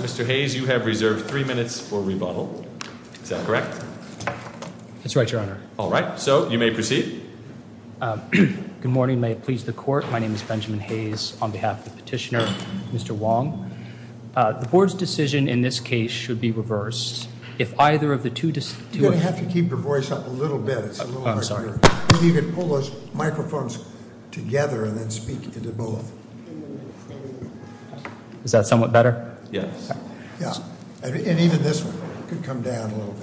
Mr. Hayes, you have reserved three minutes for rebuttal. Is that correct? That's right, Your Honor. All right. So you may proceed. Good morning. May it please the Court. My name is Benjamin Hayes. On behalf of the petitioner, Mr. Wong. The Board's decision in this case should be reversed if either of the two... You're going to have to keep your voice up a little bit. Oh, I'm sorry. Maybe you can pull those microphones together and then speak into both. Is that somewhat better? Yes. And even this one could come down a little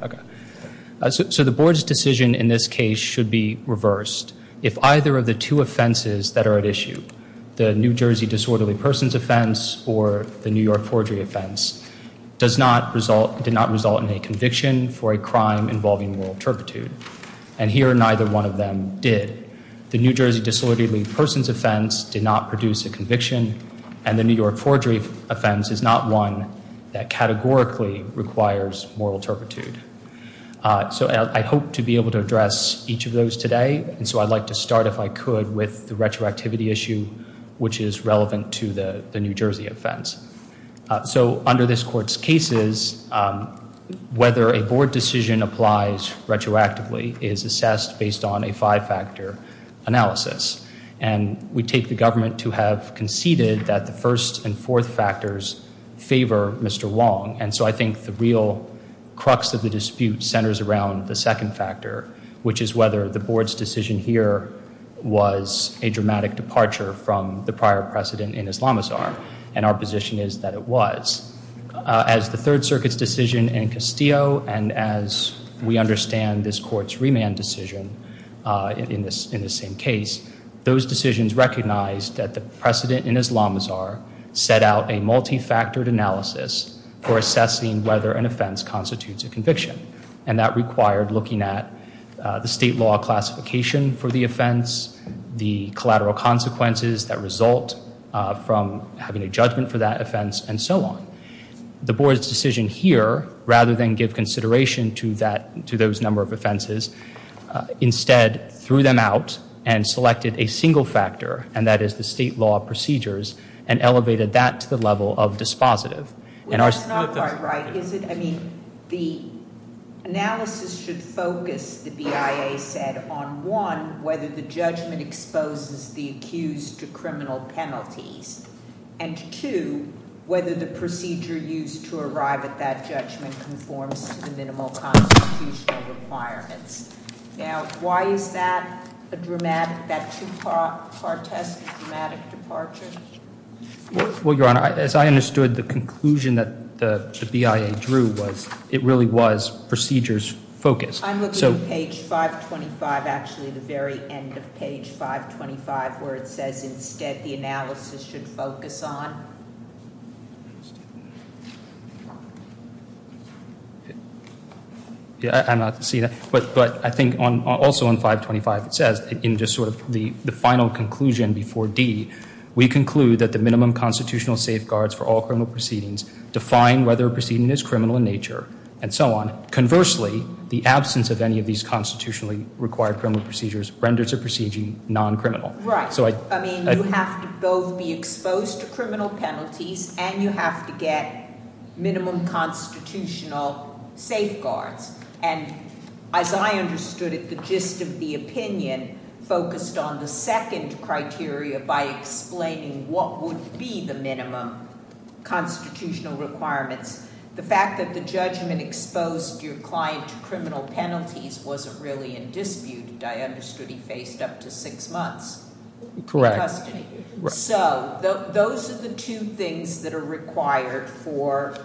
bit. So the Board's decision in this case should be reversed if either of the two offenses that are at issue, the New Jersey disorderly persons offense or the New York forgery offense, did not result in a conviction for a crime involving moral turpitude. And here neither one of them did. The New Jersey disorderly persons offense did not produce a conviction and the New York forgery offense is not one that categorically requires moral turpitude. So I hope to be able to address each of those today. And so I'd like to start, if I could, with the retroactivity issue, which is relevant to the New Jersey offense. So under this Court's cases, whether a Board decision applies retroactively is assessed based on a five-factor analysis. And we take the government to have conceded that the first and fourth factors favor Mr. Wong. And so I think the real crux of the dispute centers around the second factor, which is whether the Board's decision here was a dramatic departure from the prior precedent in Islamazar. And our position is that it was. As the Third Circuit's decision in Castillo and as we understand this Court's remand decision in this same case, those decisions recognized that the precedent in Islamazar set out a multifactored analysis for assessing whether an offense constitutes a conviction. And that required looking at the state law classification for the offense, the collateral consequences that result from having a judgment for that offense, and so on. The Board's decision here, rather than give consideration to those number of offenses, instead threw them out and selected a single factor, and that is the state law procedures, and elevated that to the level of dispositive. Well, that's not quite right, is it? I mean, the analysis should focus, the BIA said, on one, whether the judgment exposes the accused to criminal penalties, and two, whether the procedure used to arrive at that judgment conforms to the minimal constitutional requirements. Now, why is that a dramatic, that two-part test, a dramatic departure? Well, Your Honor, as I understood the conclusion that the BIA drew was, it really was procedures focused. I'm looking at page 525, actually the very end of page 525, where it says instead the analysis should focus on. I'm not seeing that, but I think also on 525 it says, in just sort of the final conclusion before D, we conclude that the minimum constitutional safeguards for all criminal proceedings define whether a proceeding is criminal in nature, and so on. Conversely, the absence of any of these constitutionally required criminal procedures renders a proceeding non-criminal. Right. I mean, you have to both be exposed to criminal penalties, and you have to get minimum constitutional safeguards. And as I understood it, the gist of the opinion focused on the second criteria by explaining what would be the minimum constitutional requirements. The fact that the judgment exposed your client to criminal penalties wasn't really in dispute. I understood he faced up to six months in custody. Correct. So those are the two things that are required for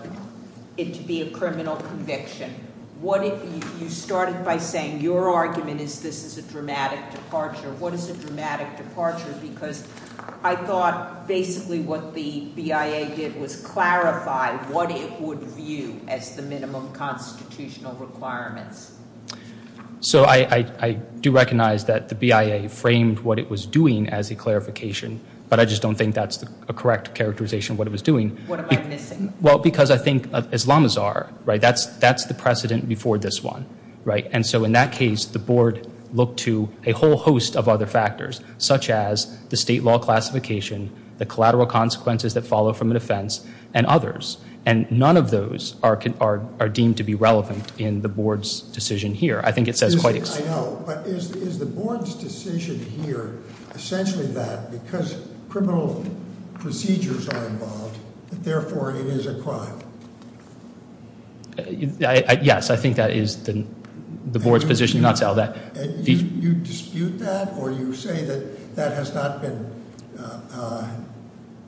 it to be a criminal conviction. You started by saying your argument is this is a dramatic departure. What is a dramatic departure? Because I thought basically what the BIA did was clarify what it would view as the minimum constitutional requirements. So I do recognize that the BIA framed what it was doing as a clarification, but I just don't think that's a correct characterization of what it was doing. What am I missing? Well, because I think Islamazar, right, that's the precedent before this one, right? And so in that case, the board looked to a whole host of other factors, such as the state law classification, the collateral consequences that follow from an offense, and others. And none of those are deemed to be relevant in the board's decision here. I think it says quite explicitly. I know, but is the board's decision here essentially that because criminal procedures are involved, therefore it is a crime? Yes, I think that is the board's position. You dispute that? Or you say that that has not been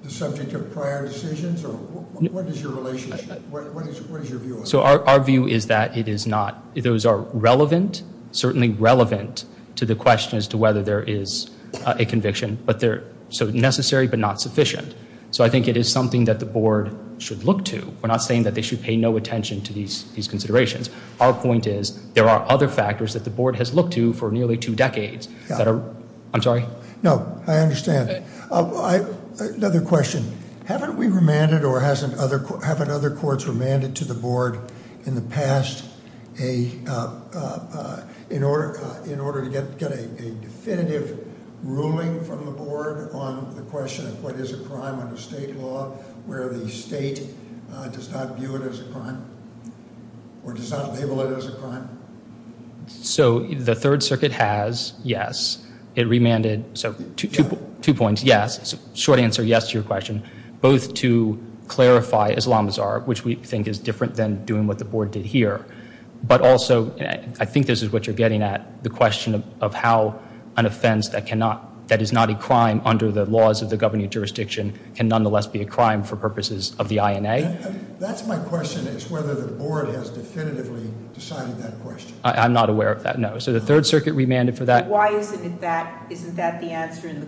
the subject of prior decisions? What is your relationship? What is your view on that? So our view is that it is not. Those are relevant, certainly relevant, to the question as to whether there is a conviction. But they're so necessary but not sufficient. So I think it is something that the board should look to. We're not saying that they should pay no attention to these considerations. Our point is there are other factors that the board has looked to for nearly two decades. I'm sorry? No, I understand. Another question. Haven't we remanded or haven't other courts remanded to the board in the past in order to get a definitive ruling from the board on the question of what is a crime under state law where the state does not view it as a crime or does not label it as a crime? So the Third Circuit has, yes. It remanded. So two points. One is, yes, short answer yes to your question, both to clarify Islamazar, which we think is different than doing what the board did here, but also I think this is what you're getting at, the question of how an offense that is not a crime under the laws of the governing jurisdiction can nonetheless be a crime for purposes of the INA. That's my question is whether the board has definitively decided that question. I'm not aware of that, no. So the Third Circuit remanded for that. Why isn't that the answer in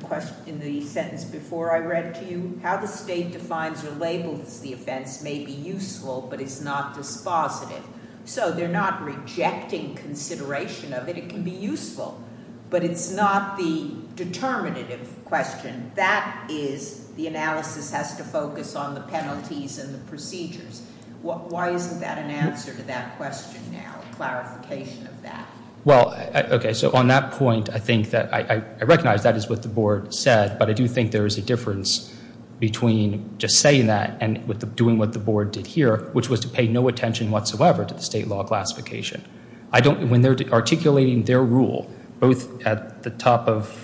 the sentence before I read to you? How the state defines or labels the offense may be useful, but it's not dispositive. So they're not rejecting consideration of it. It can be useful, but it's not the determinative question. That is the analysis has to focus on the penalties and the procedures. Why isn't that an answer to that question now, a clarification of that? Well, okay. So on that point, I think that I recognize that is what the board said, but I do think there is a difference between just saying that and doing what the board did here, which was to pay no attention whatsoever to the state law classification. When they're articulating their rule, both at the top of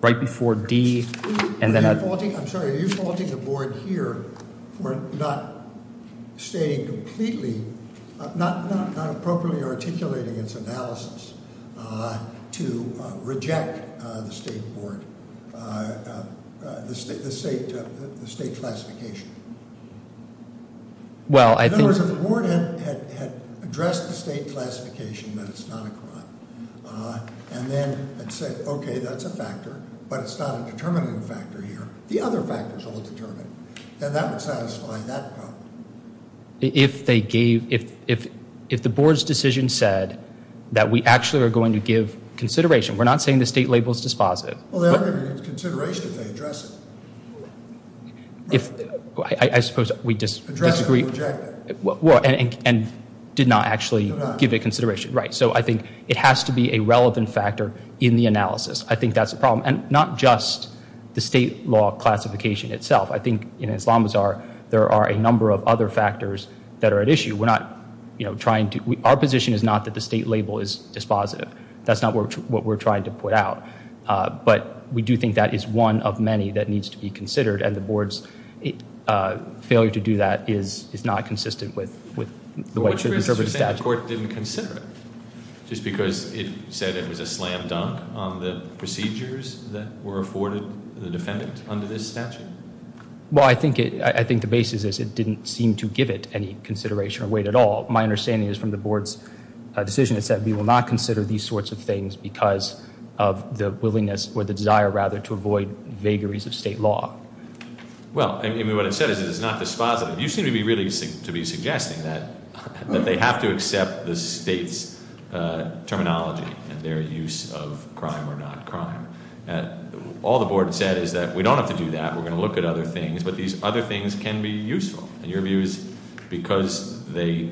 right before D and then at. I'm sorry. Are you faulting the board here for not stating completely, not appropriately articulating its analysis to reject the state board, the state classification? In other words, if the board had addressed the state classification that it's not a crime and then had said, okay, that's a factor, but it's not a determinative factor here, the other factors will determine, and that would satisfy that problem. If they gave, if the board's decision said that we actually are going to give consideration, we're not saying the state label is dispositive. Well, they aren't going to give consideration if they address it. I suppose we disagree. Address it and reject it. And did not actually give it consideration. Right. So I think it has to be a relevant factor in the analysis. I think that's the problem. And not just the state law classification itself. I think in Islamazar there are a number of other factors that are at issue. We're not trying to, our position is not that the state label is dispositive. That's not what we're trying to put out. But we do think that is one of many that needs to be considered, and the board's failure to do that is not consistent with the way it should be interpreted. You're saying the court didn't consider it, just because it said it was a slam dunk on the procedures that were afforded the defendant under this statute? Well, I think the basis is it didn't seem to give it any consideration or weight at all. My understanding is from the board's decision it said we will not consider these sorts of things because of the willingness or the desire, rather, to avoid vagaries of state law. Well, what it said is it is not dispositive. You seem to be really to be suggesting that they have to accept the state's terminology and their use of crime or not crime. All the board said is that we don't have to do that. We're going to look at other things, but these other things can be useful. And your view is because they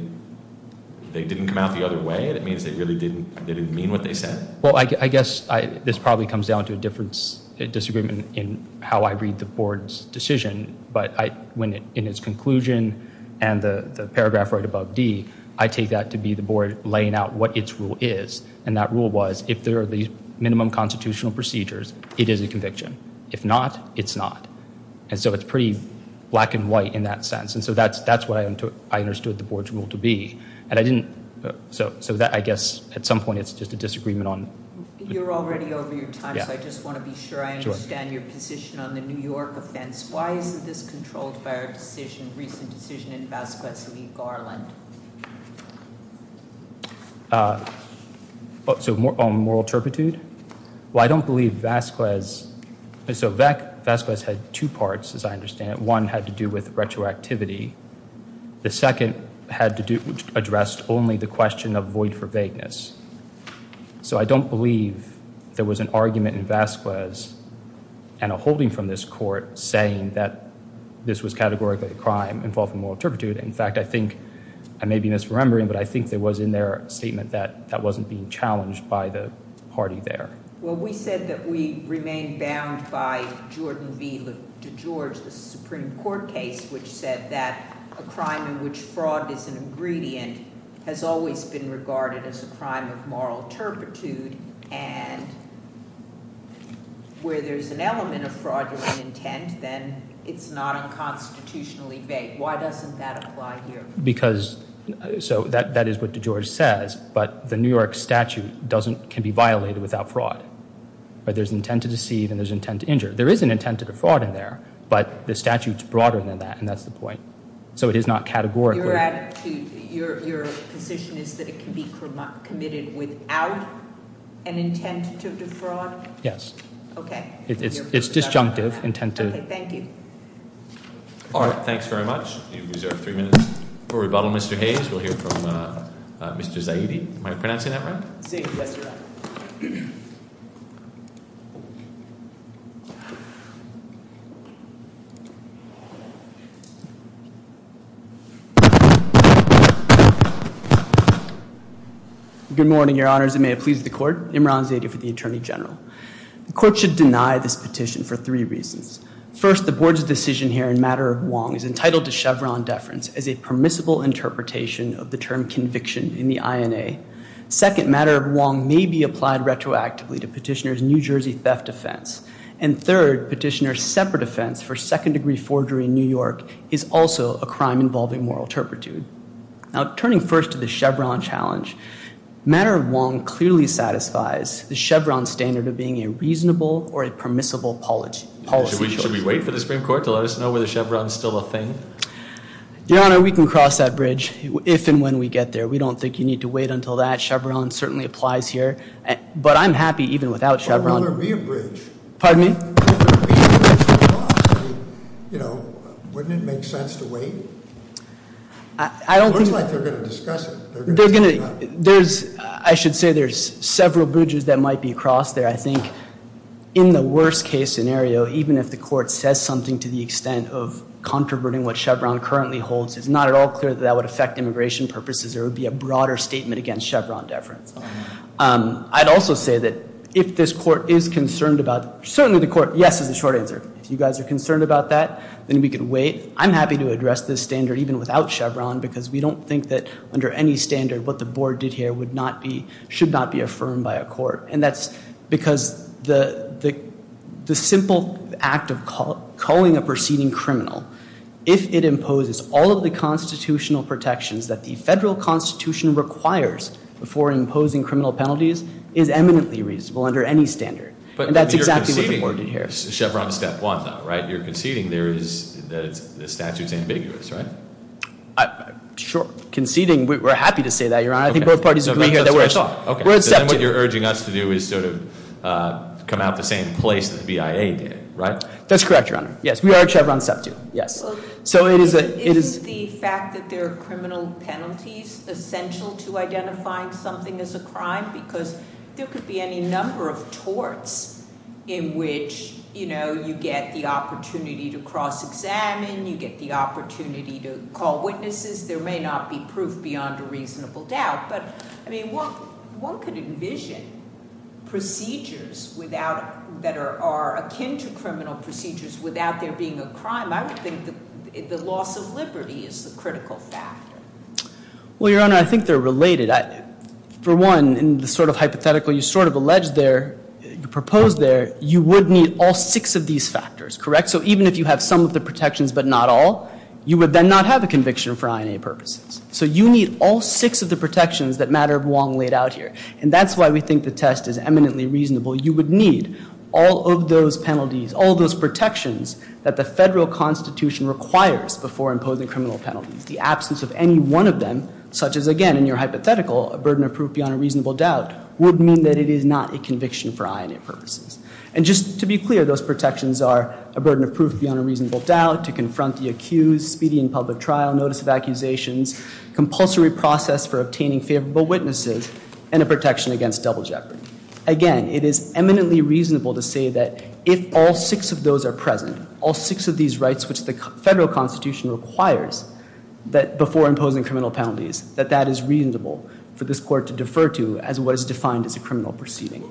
didn't come out the other way, that means they really didn't mean what they said? Well, I guess this probably comes down to a disagreement in how I read the board's decision. But in its conclusion and the paragraph right above D, I take that to be the board laying out what its rule is. And that rule was if there are these minimum constitutional procedures, it is a conviction. If not, it's not. And so it's pretty black and white in that sense. And so that's what I understood the board's rule to be. And I didn't—so I guess at some point it's just a disagreement on— You're already over your time, so I just want to be sure I understand your position on the New York offense. Why isn't this controlled by our decision, recent decision in Vasquez v. Garland? So moral turpitude? Well, I don't believe Vasquez—so Vasquez had two parts, as I understand it. One had to do with retroactivity. The second had to do—addressed only the question of void for vagueness. So I don't believe there was an argument in Vasquez and a holding from this court saying that this was categorically a crime involving moral turpitude. In fact, I think—I may be misremembering, but I think there was in their statement that that wasn't being challenged by the party there. Well, we said that we remain bound by Jordan v. DeGeorge, the Supreme Court case, which said that a crime in which fraud is an ingredient has always been regarded as a crime of moral turpitude. And where there's an element of fraudulent intent, then it's not unconstitutionally vague. Why doesn't that apply here? Because—so that is what DeGeorge says, but the New York statute doesn't—can be violated without fraud. But there's intent to deceive and there's intent to injure. There is an intent to defraud in there, but the statute's broader than that, and that's the point. So it is not categorically— You're at—your position is that it can be committed without an intent to defraud? Yes. Okay. It's disjunctive, intent to— Okay, thank you. All right, thanks very much. You have reserved three minutes for rebuttal. Mr. Hayes, we'll hear from Mr. Zaidi. Am I pronouncing that right? Yes, you are. Good morning, Your Honors, and may it please the Court. Imran Zaidi for the Attorney General. The Court should deny this petition for three reasons. First, the Board's decision here in Matter of Wong is entitled to Chevron deference as a permissible interpretation of the term conviction in the INA. Second, Matter of Wong may be applied retroactively to Petitioner's New Jersey theft offense. And third, Petitioner's separate offense for second-degree forgery in New York is also a crime involving moral turpitude. Now, turning first to the Chevron challenge, Matter of Wong clearly satisfies the Chevron standard of being a reasonable or a permissible policy. Should we wait for the Supreme Court to let us know whether Chevron's still a thing? Your Honor, we can cross that bridge if and when we get there. We don't think you need to wait until that. Chevron certainly applies here. But I'm happy even without Chevron. Well, there'd be a bridge. Pardon me? There'd be a bridge across. You know, wouldn't it make sense to wait? I don't think— It looks like they're going to discuss it. They're going to— There's—I should say there's several bridges that might be crossed there. But I think in the worst-case scenario, even if the court says something to the extent of controverting what Chevron currently holds, it's not at all clear that that would affect immigration purposes or it would be a broader statement against Chevron deference. I'd also say that if this court is concerned about—certainly the court—yes is the short answer. If you guys are concerned about that, then we could wait. I'm happy to address this standard even without Chevron because we don't think that under any standard what the board did here would not be—should not be affirmed by a court. And that's because the simple act of calling a proceeding criminal, if it imposes all of the constitutional protections that the federal constitution requires before imposing criminal penalties, is eminently reasonable under any standard. And that's exactly what the board did here. But you're conceding Chevron's step one, though, right? You're conceding there is—the statute's ambiguous, right? Sure. Conceding. We're happy to say that, Your Honor. I think both parties agree here that we're accepting. Oh, okay. So then what you're urging us to do is sort of come out the same place that the BIA did, right? That's correct, Your Honor. Yes, we are at Chevron's step two. Yes. So it is a— Isn't the fact that there are criminal penalties essential to identifying something as a crime? Because there could be any number of torts in which, you know, you get the opportunity to cross-examine, you get the opportunity to call witnesses. There may not be proof beyond a reasonable doubt. But, I mean, one could envision procedures without—that are akin to criminal procedures without there being a crime. I would think the loss of liberty is the critical factor. Well, Your Honor, I think they're related. For one, in the sort of hypothetical you sort of alleged there, you proposed there, you would need all six of these factors, correct? So even if you have some of the protections but not all, you would then not have a conviction for INA purposes. So you need all six of the protections that Matter of Wong laid out here. And that's why we think the test is eminently reasonable. You would need all of those penalties, all those protections that the federal Constitution requires before imposing criminal penalties. The absence of any one of them, such as, again, in your hypothetical, a burden of proof beyond a reasonable doubt, would mean that it is not a conviction for INA purposes. And just to be clear, those protections are a burden of proof beyond a reasonable doubt, to confront the accused, speedy in public trial, notice of accusations, compulsory process for obtaining favorable witnesses, and a protection against double jeopardy. Again, it is eminently reasonable to say that if all six of those are present, all six of these rights which the federal Constitution requires before imposing criminal penalties, that that is reasonable for this Court to defer to as what is defined as a criminal proceeding.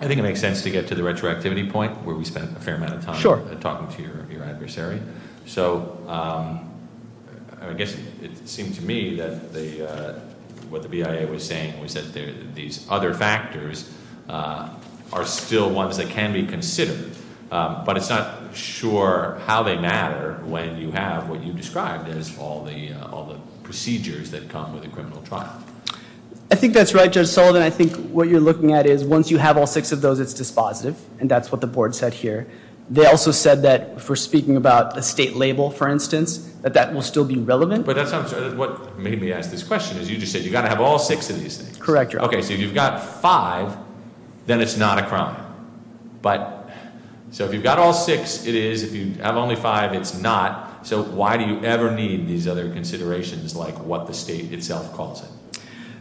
I think it makes sense to get to the retroactivity point where we spent a fair amount of time- Sure. Talking to your adversary. So I guess it seemed to me that what the BIA was saying was that these other factors are still ones that can be considered. But it's not sure how they matter when you have what you described as all the procedures that come with a criminal trial. I think that's right, Judge Sullivan. I think what you're looking at is once you have all six of those, it's dispositive. And that's what the board said here. They also said that if we're speaking about a state label, for instance, that that will still be relevant. But that's what made me ask this question, is you just said you've got to have all six of these things. Correct, Your Honor. Okay, so if you've got five, then it's not a crime. So if you've got all six, it is. If you have only five, it's not. So why do you ever need these other considerations like what the state itself calls it?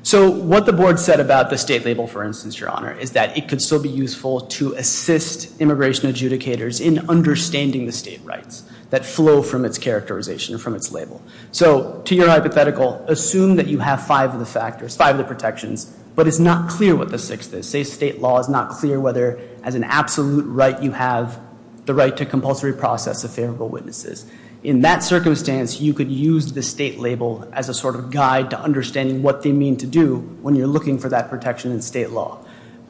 So what the board said about the state label, for instance, Your Honor, is that it could still be useful to assist immigration adjudicators in understanding the state rights that flow from its characterization, from its label. So to your hypothetical, assume that you have five of the factors, five of the protections, but it's not clear what the sixth is. Say state law is not clear whether as an absolute right you have the right to compulsory process of favorable witnesses. In that circumstance, you could use the state label as a sort of guide to understanding what they mean to do when you're looking for that protection in state law.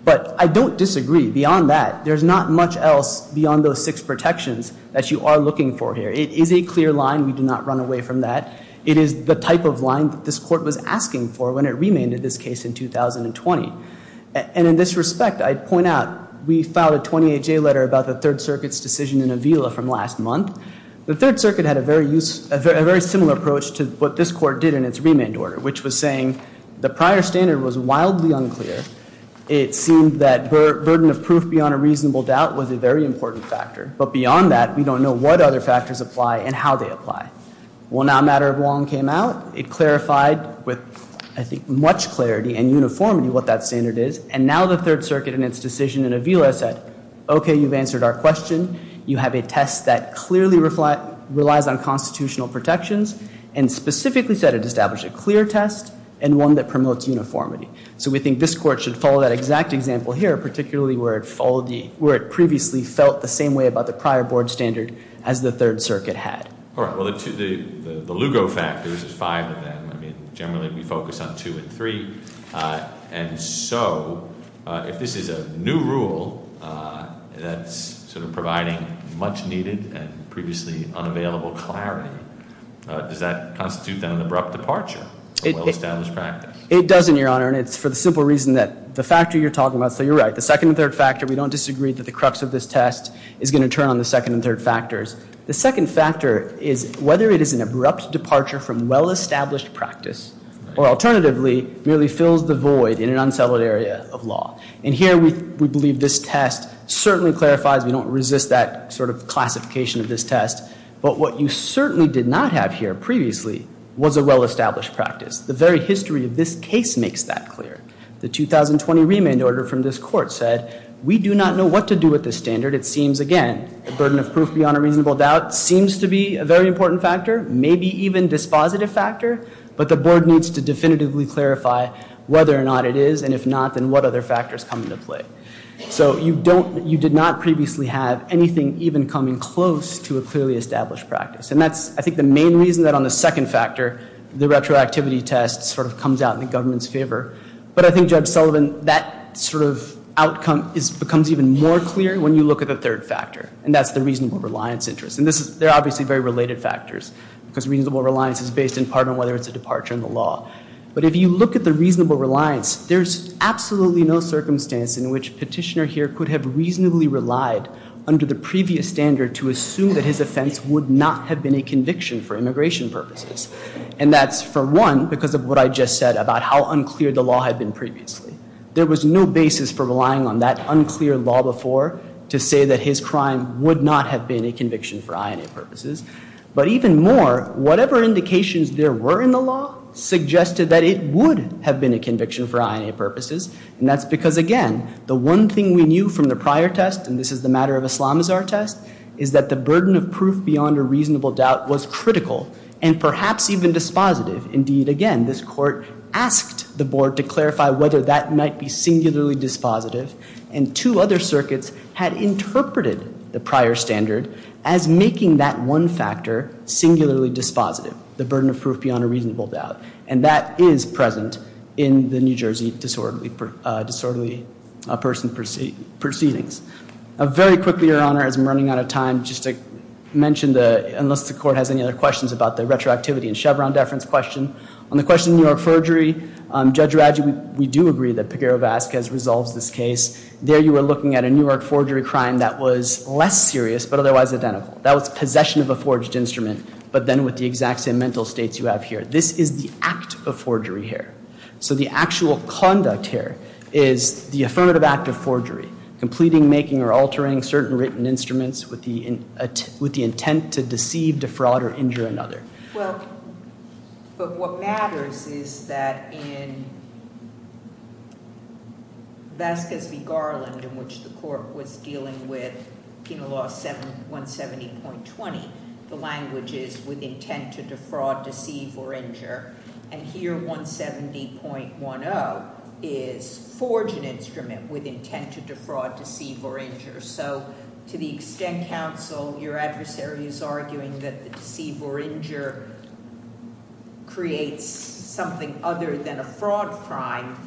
But I don't disagree. Beyond that, there's not much else beyond those six protections that you are looking for here. It is a clear line. We do not run away from that. It is the type of line that this court was asking for when it remanded this case in 2020. And in this respect, I'd point out we filed a 28-J letter about the Third Circuit's decision in Avila from last month. The Third Circuit had a very similar approach to what this court did in its remand order, which was saying the prior standard was wildly unclear. It seemed that burden of proof beyond a reasonable doubt was a very important factor. But beyond that, we don't know what other factors apply and how they apply. Well, now a matter of long came out. It clarified with, I think, much clarity and uniformity what that standard is. And now the Third Circuit in its decision in Avila said, okay, you've answered our question. You have a test that clearly relies on constitutional protections. And specifically said it established a clear test and one that promotes uniformity. So we think this court should follow that exact example here, particularly where it previously felt the same way about the prior board standard as the Third Circuit had. All right. Well, the Lugo factors, there's five of them. I mean, generally we focus on two and three. And so if this is a new rule that's sort of providing much needed and previously unavailable clarity, does that constitute then an abrupt departure from well-established practice? It doesn't, Your Honor. And it's for the simple reason that the factor you're talking about, so you're right. The second and third factor, we don't disagree that the crux of this test is going to turn on the second and third factors. The second factor is whether it is an abrupt departure from well-established practice or alternatively merely fills the void in an unsettled area of law. And here we believe this test certainly clarifies. We don't resist that sort of classification of this test. But what you certainly did not have here previously was a well-established practice. The very history of this case makes that clear. The 2020 remand order from this court said we do not know what to do with this standard. It seems, again, the burden of proof beyond a reasonable doubt seems to be a very important factor, maybe even dispositive factor, but the Board needs to definitively clarify whether or not it is. And if not, then what other factors come into play? So you did not previously have anything even coming close to a clearly established practice. And that's, I think, the main reason that on the second factor the retroactivity test sort of comes out in the government's favor. But I think, Judge Sullivan, that sort of outcome becomes even more clear when you look at the third factor, and that's the reasonable reliance interest. And they're obviously very related factors because reasonable reliance is based in part on whether it's a departure in the law. But if you look at the reasonable reliance, there's absolutely no circumstance in which Petitioner here could have reasonably relied under the previous standard to assume that his offense would not have been a conviction for immigration purposes. And that's, for one, because of what I just said about how unclear the law had been previously. There was no basis for relying on that unclear law before to say that his crime would not have been a conviction for INA purposes. But even more, whatever indications there were in the law suggested that it would have been a conviction for INA purposes. And that's because, again, the one thing we knew from the prior test, and this is the matter of Islamazar test, is that the burden of proof beyond a reasonable doubt was critical. And perhaps even dispositive. Indeed, again, this Court asked the Board to clarify whether that might be singularly dispositive. And two other circuits had interpreted the prior standard as making that one factor singularly dispositive, the burden of proof beyond a reasonable doubt. And that is present in the New Jersey disorderly person proceedings. Very quickly, Your Honor, as I'm running out of time, just to mention, unless the Court has any other questions about the retroactivity and Chevron deference question, on the question of New York forgery, Judge Radji, we do agree that Peguero-Vazquez resolves this case. There you were looking at a New York forgery crime that was less serious but otherwise identical. That was possession of a forged instrument, but then with the exact same mental states you have here. This is the act of forgery here. So the actual conduct here is the affirmative act of forgery, completing, making, or altering certain written instruments with the intent to deceive, defraud, or injure another. Well, but what matters is that in Vasquez v. Garland, in which the Court was dealing with Penal Law 170.20, the language is with intent to defraud, deceive, or injure, and here 170.10 is forge an instrument with intent to defraud, deceive, or injure. So to the extent, counsel, your adversary is arguing that the deceive or injure creates something other than a fraud crime,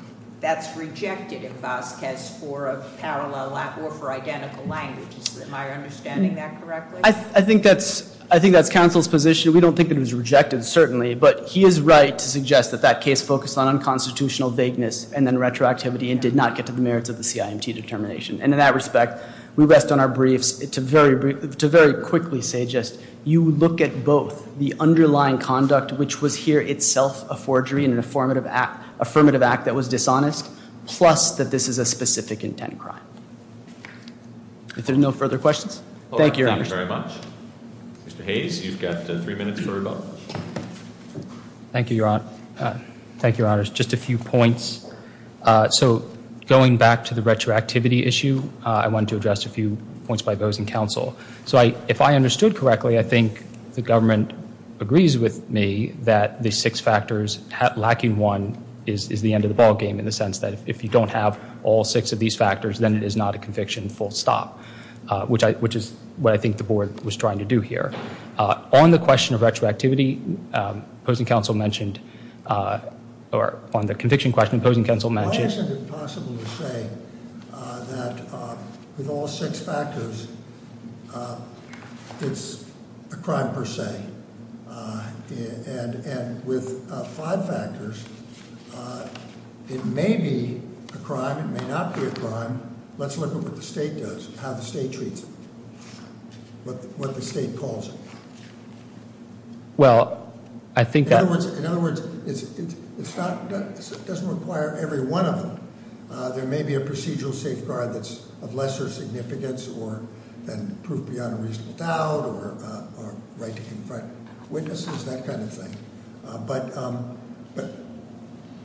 that's rejected in Vasquez for a parallel or for identical language. Am I understanding that correctly? I think that's counsel's position. We don't think it was rejected, certainly, but he is right to suggest that that case focused on unconstitutional vagueness and then retroactivity and did not get to the merits of the CIMT determination. And in that respect, we rest on our briefs to very quickly say just you look at both the underlying conduct, which was here itself a forgery and an affirmative act that was dishonest, plus that this is a specific intent crime. If there are no further questions. Thank you, Your Honor. Thank you very much. Mr. Hayes, you've got three minutes for rebuttal. Thank you, Your Honor. Just a few points. So going back to the retroactivity issue, I wanted to address a few points by those in counsel. So if I understood correctly, I think the government agrees with me that the six factors lacking one is the end of the ballgame in the sense that if you don't have all six of these factors, then it is not a conviction full stop, which is what I think the board was trying to do here. On the question of retroactivity, opposing counsel mentioned, or on the conviction question, opposing counsel mentioned. Why is it impossible to say that with all six factors, it's a crime per se? And with five factors, it may be a crime, it may not be a crime. Let's look at what the state does, how the state treats it, what the state calls it. Well, I think that- In other words, it doesn't require every one of them. There may be a procedural safeguard that's of lesser significance or than proof beyond a reasonable doubt or right to confront witnesses, that kind of thing.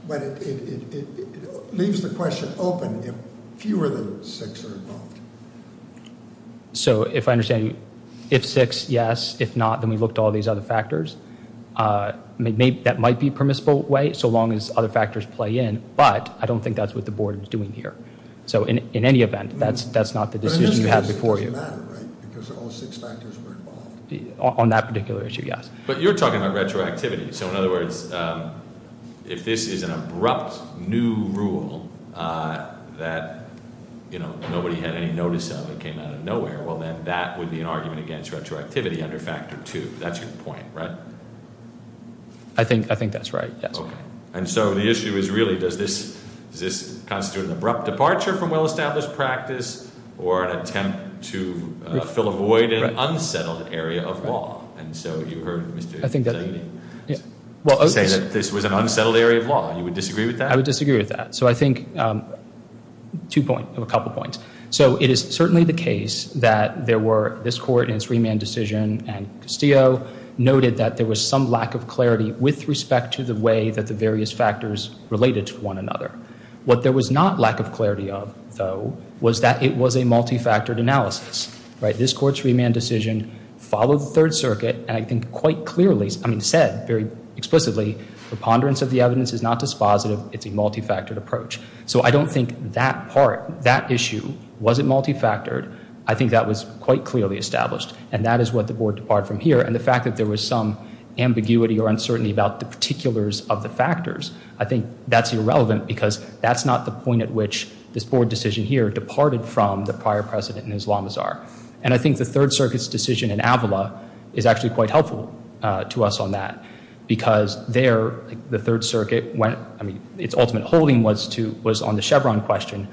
But it leaves the question open if fewer than six are involved. So if I understand, if six, yes, if not, then we look to all these other factors. That might be a permissible way so long as other factors play in, but I don't think that's what the board is doing here. So in any event, that's not the decision you have before you. It doesn't matter, right? Because all six factors were involved. On that particular issue, yes. But you're talking about retroactivity. So in other words, if this is an abrupt new rule that nobody had any notice of, it came out of nowhere, well, then that would be an argument against retroactivity under factor two. That's your point, right? I think that's right, yes. And so the issue is really, does this constitute an abrupt departure from well-established practice or You say that this was an unsettled area of law. You would disagree with that? I would disagree with that. So I think two points, a couple points. So it is certainly the case that there were this court and its remand decision, and Castillo noted that there was some lack of clarity with respect to the way that the various factors related to one another. What there was not lack of clarity of, though, was that it was a multifactored analysis. This court's remand decision followed the Third Circuit and I think quite clearly, I mean said very explicitly, the ponderance of the evidence is not dispositive. It's a multifactored approach. So I don't think that part, that issue wasn't multifactored. I think that was quite clearly established. And that is what the board departed from here. And the fact that there was some ambiguity or uncertainty about the particulars of the factors, I think that's irrelevant because that's not the point at which this board decision here departed from the prior precedent in Islamazar. And I think the Third Circuit's decision in Avila is actually quite helpful to us on that. Because there, the Third Circuit went, I mean, its ultimate holding was to, was on the Chevron question.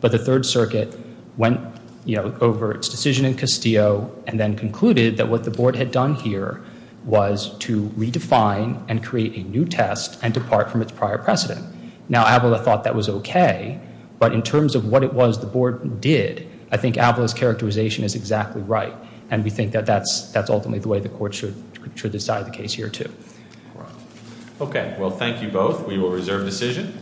But the Third Circuit went, you know, over its decision in Castillo and then concluded that what the board had done here was to redefine and create a new test and depart from its prior precedent. Now, Avila thought that was okay. But in terms of what it was the board did, I think Avila's characterization is exactly right. And we think that that's ultimately the way the court should decide the case here too. Okay, well thank you both. We will reserve decision.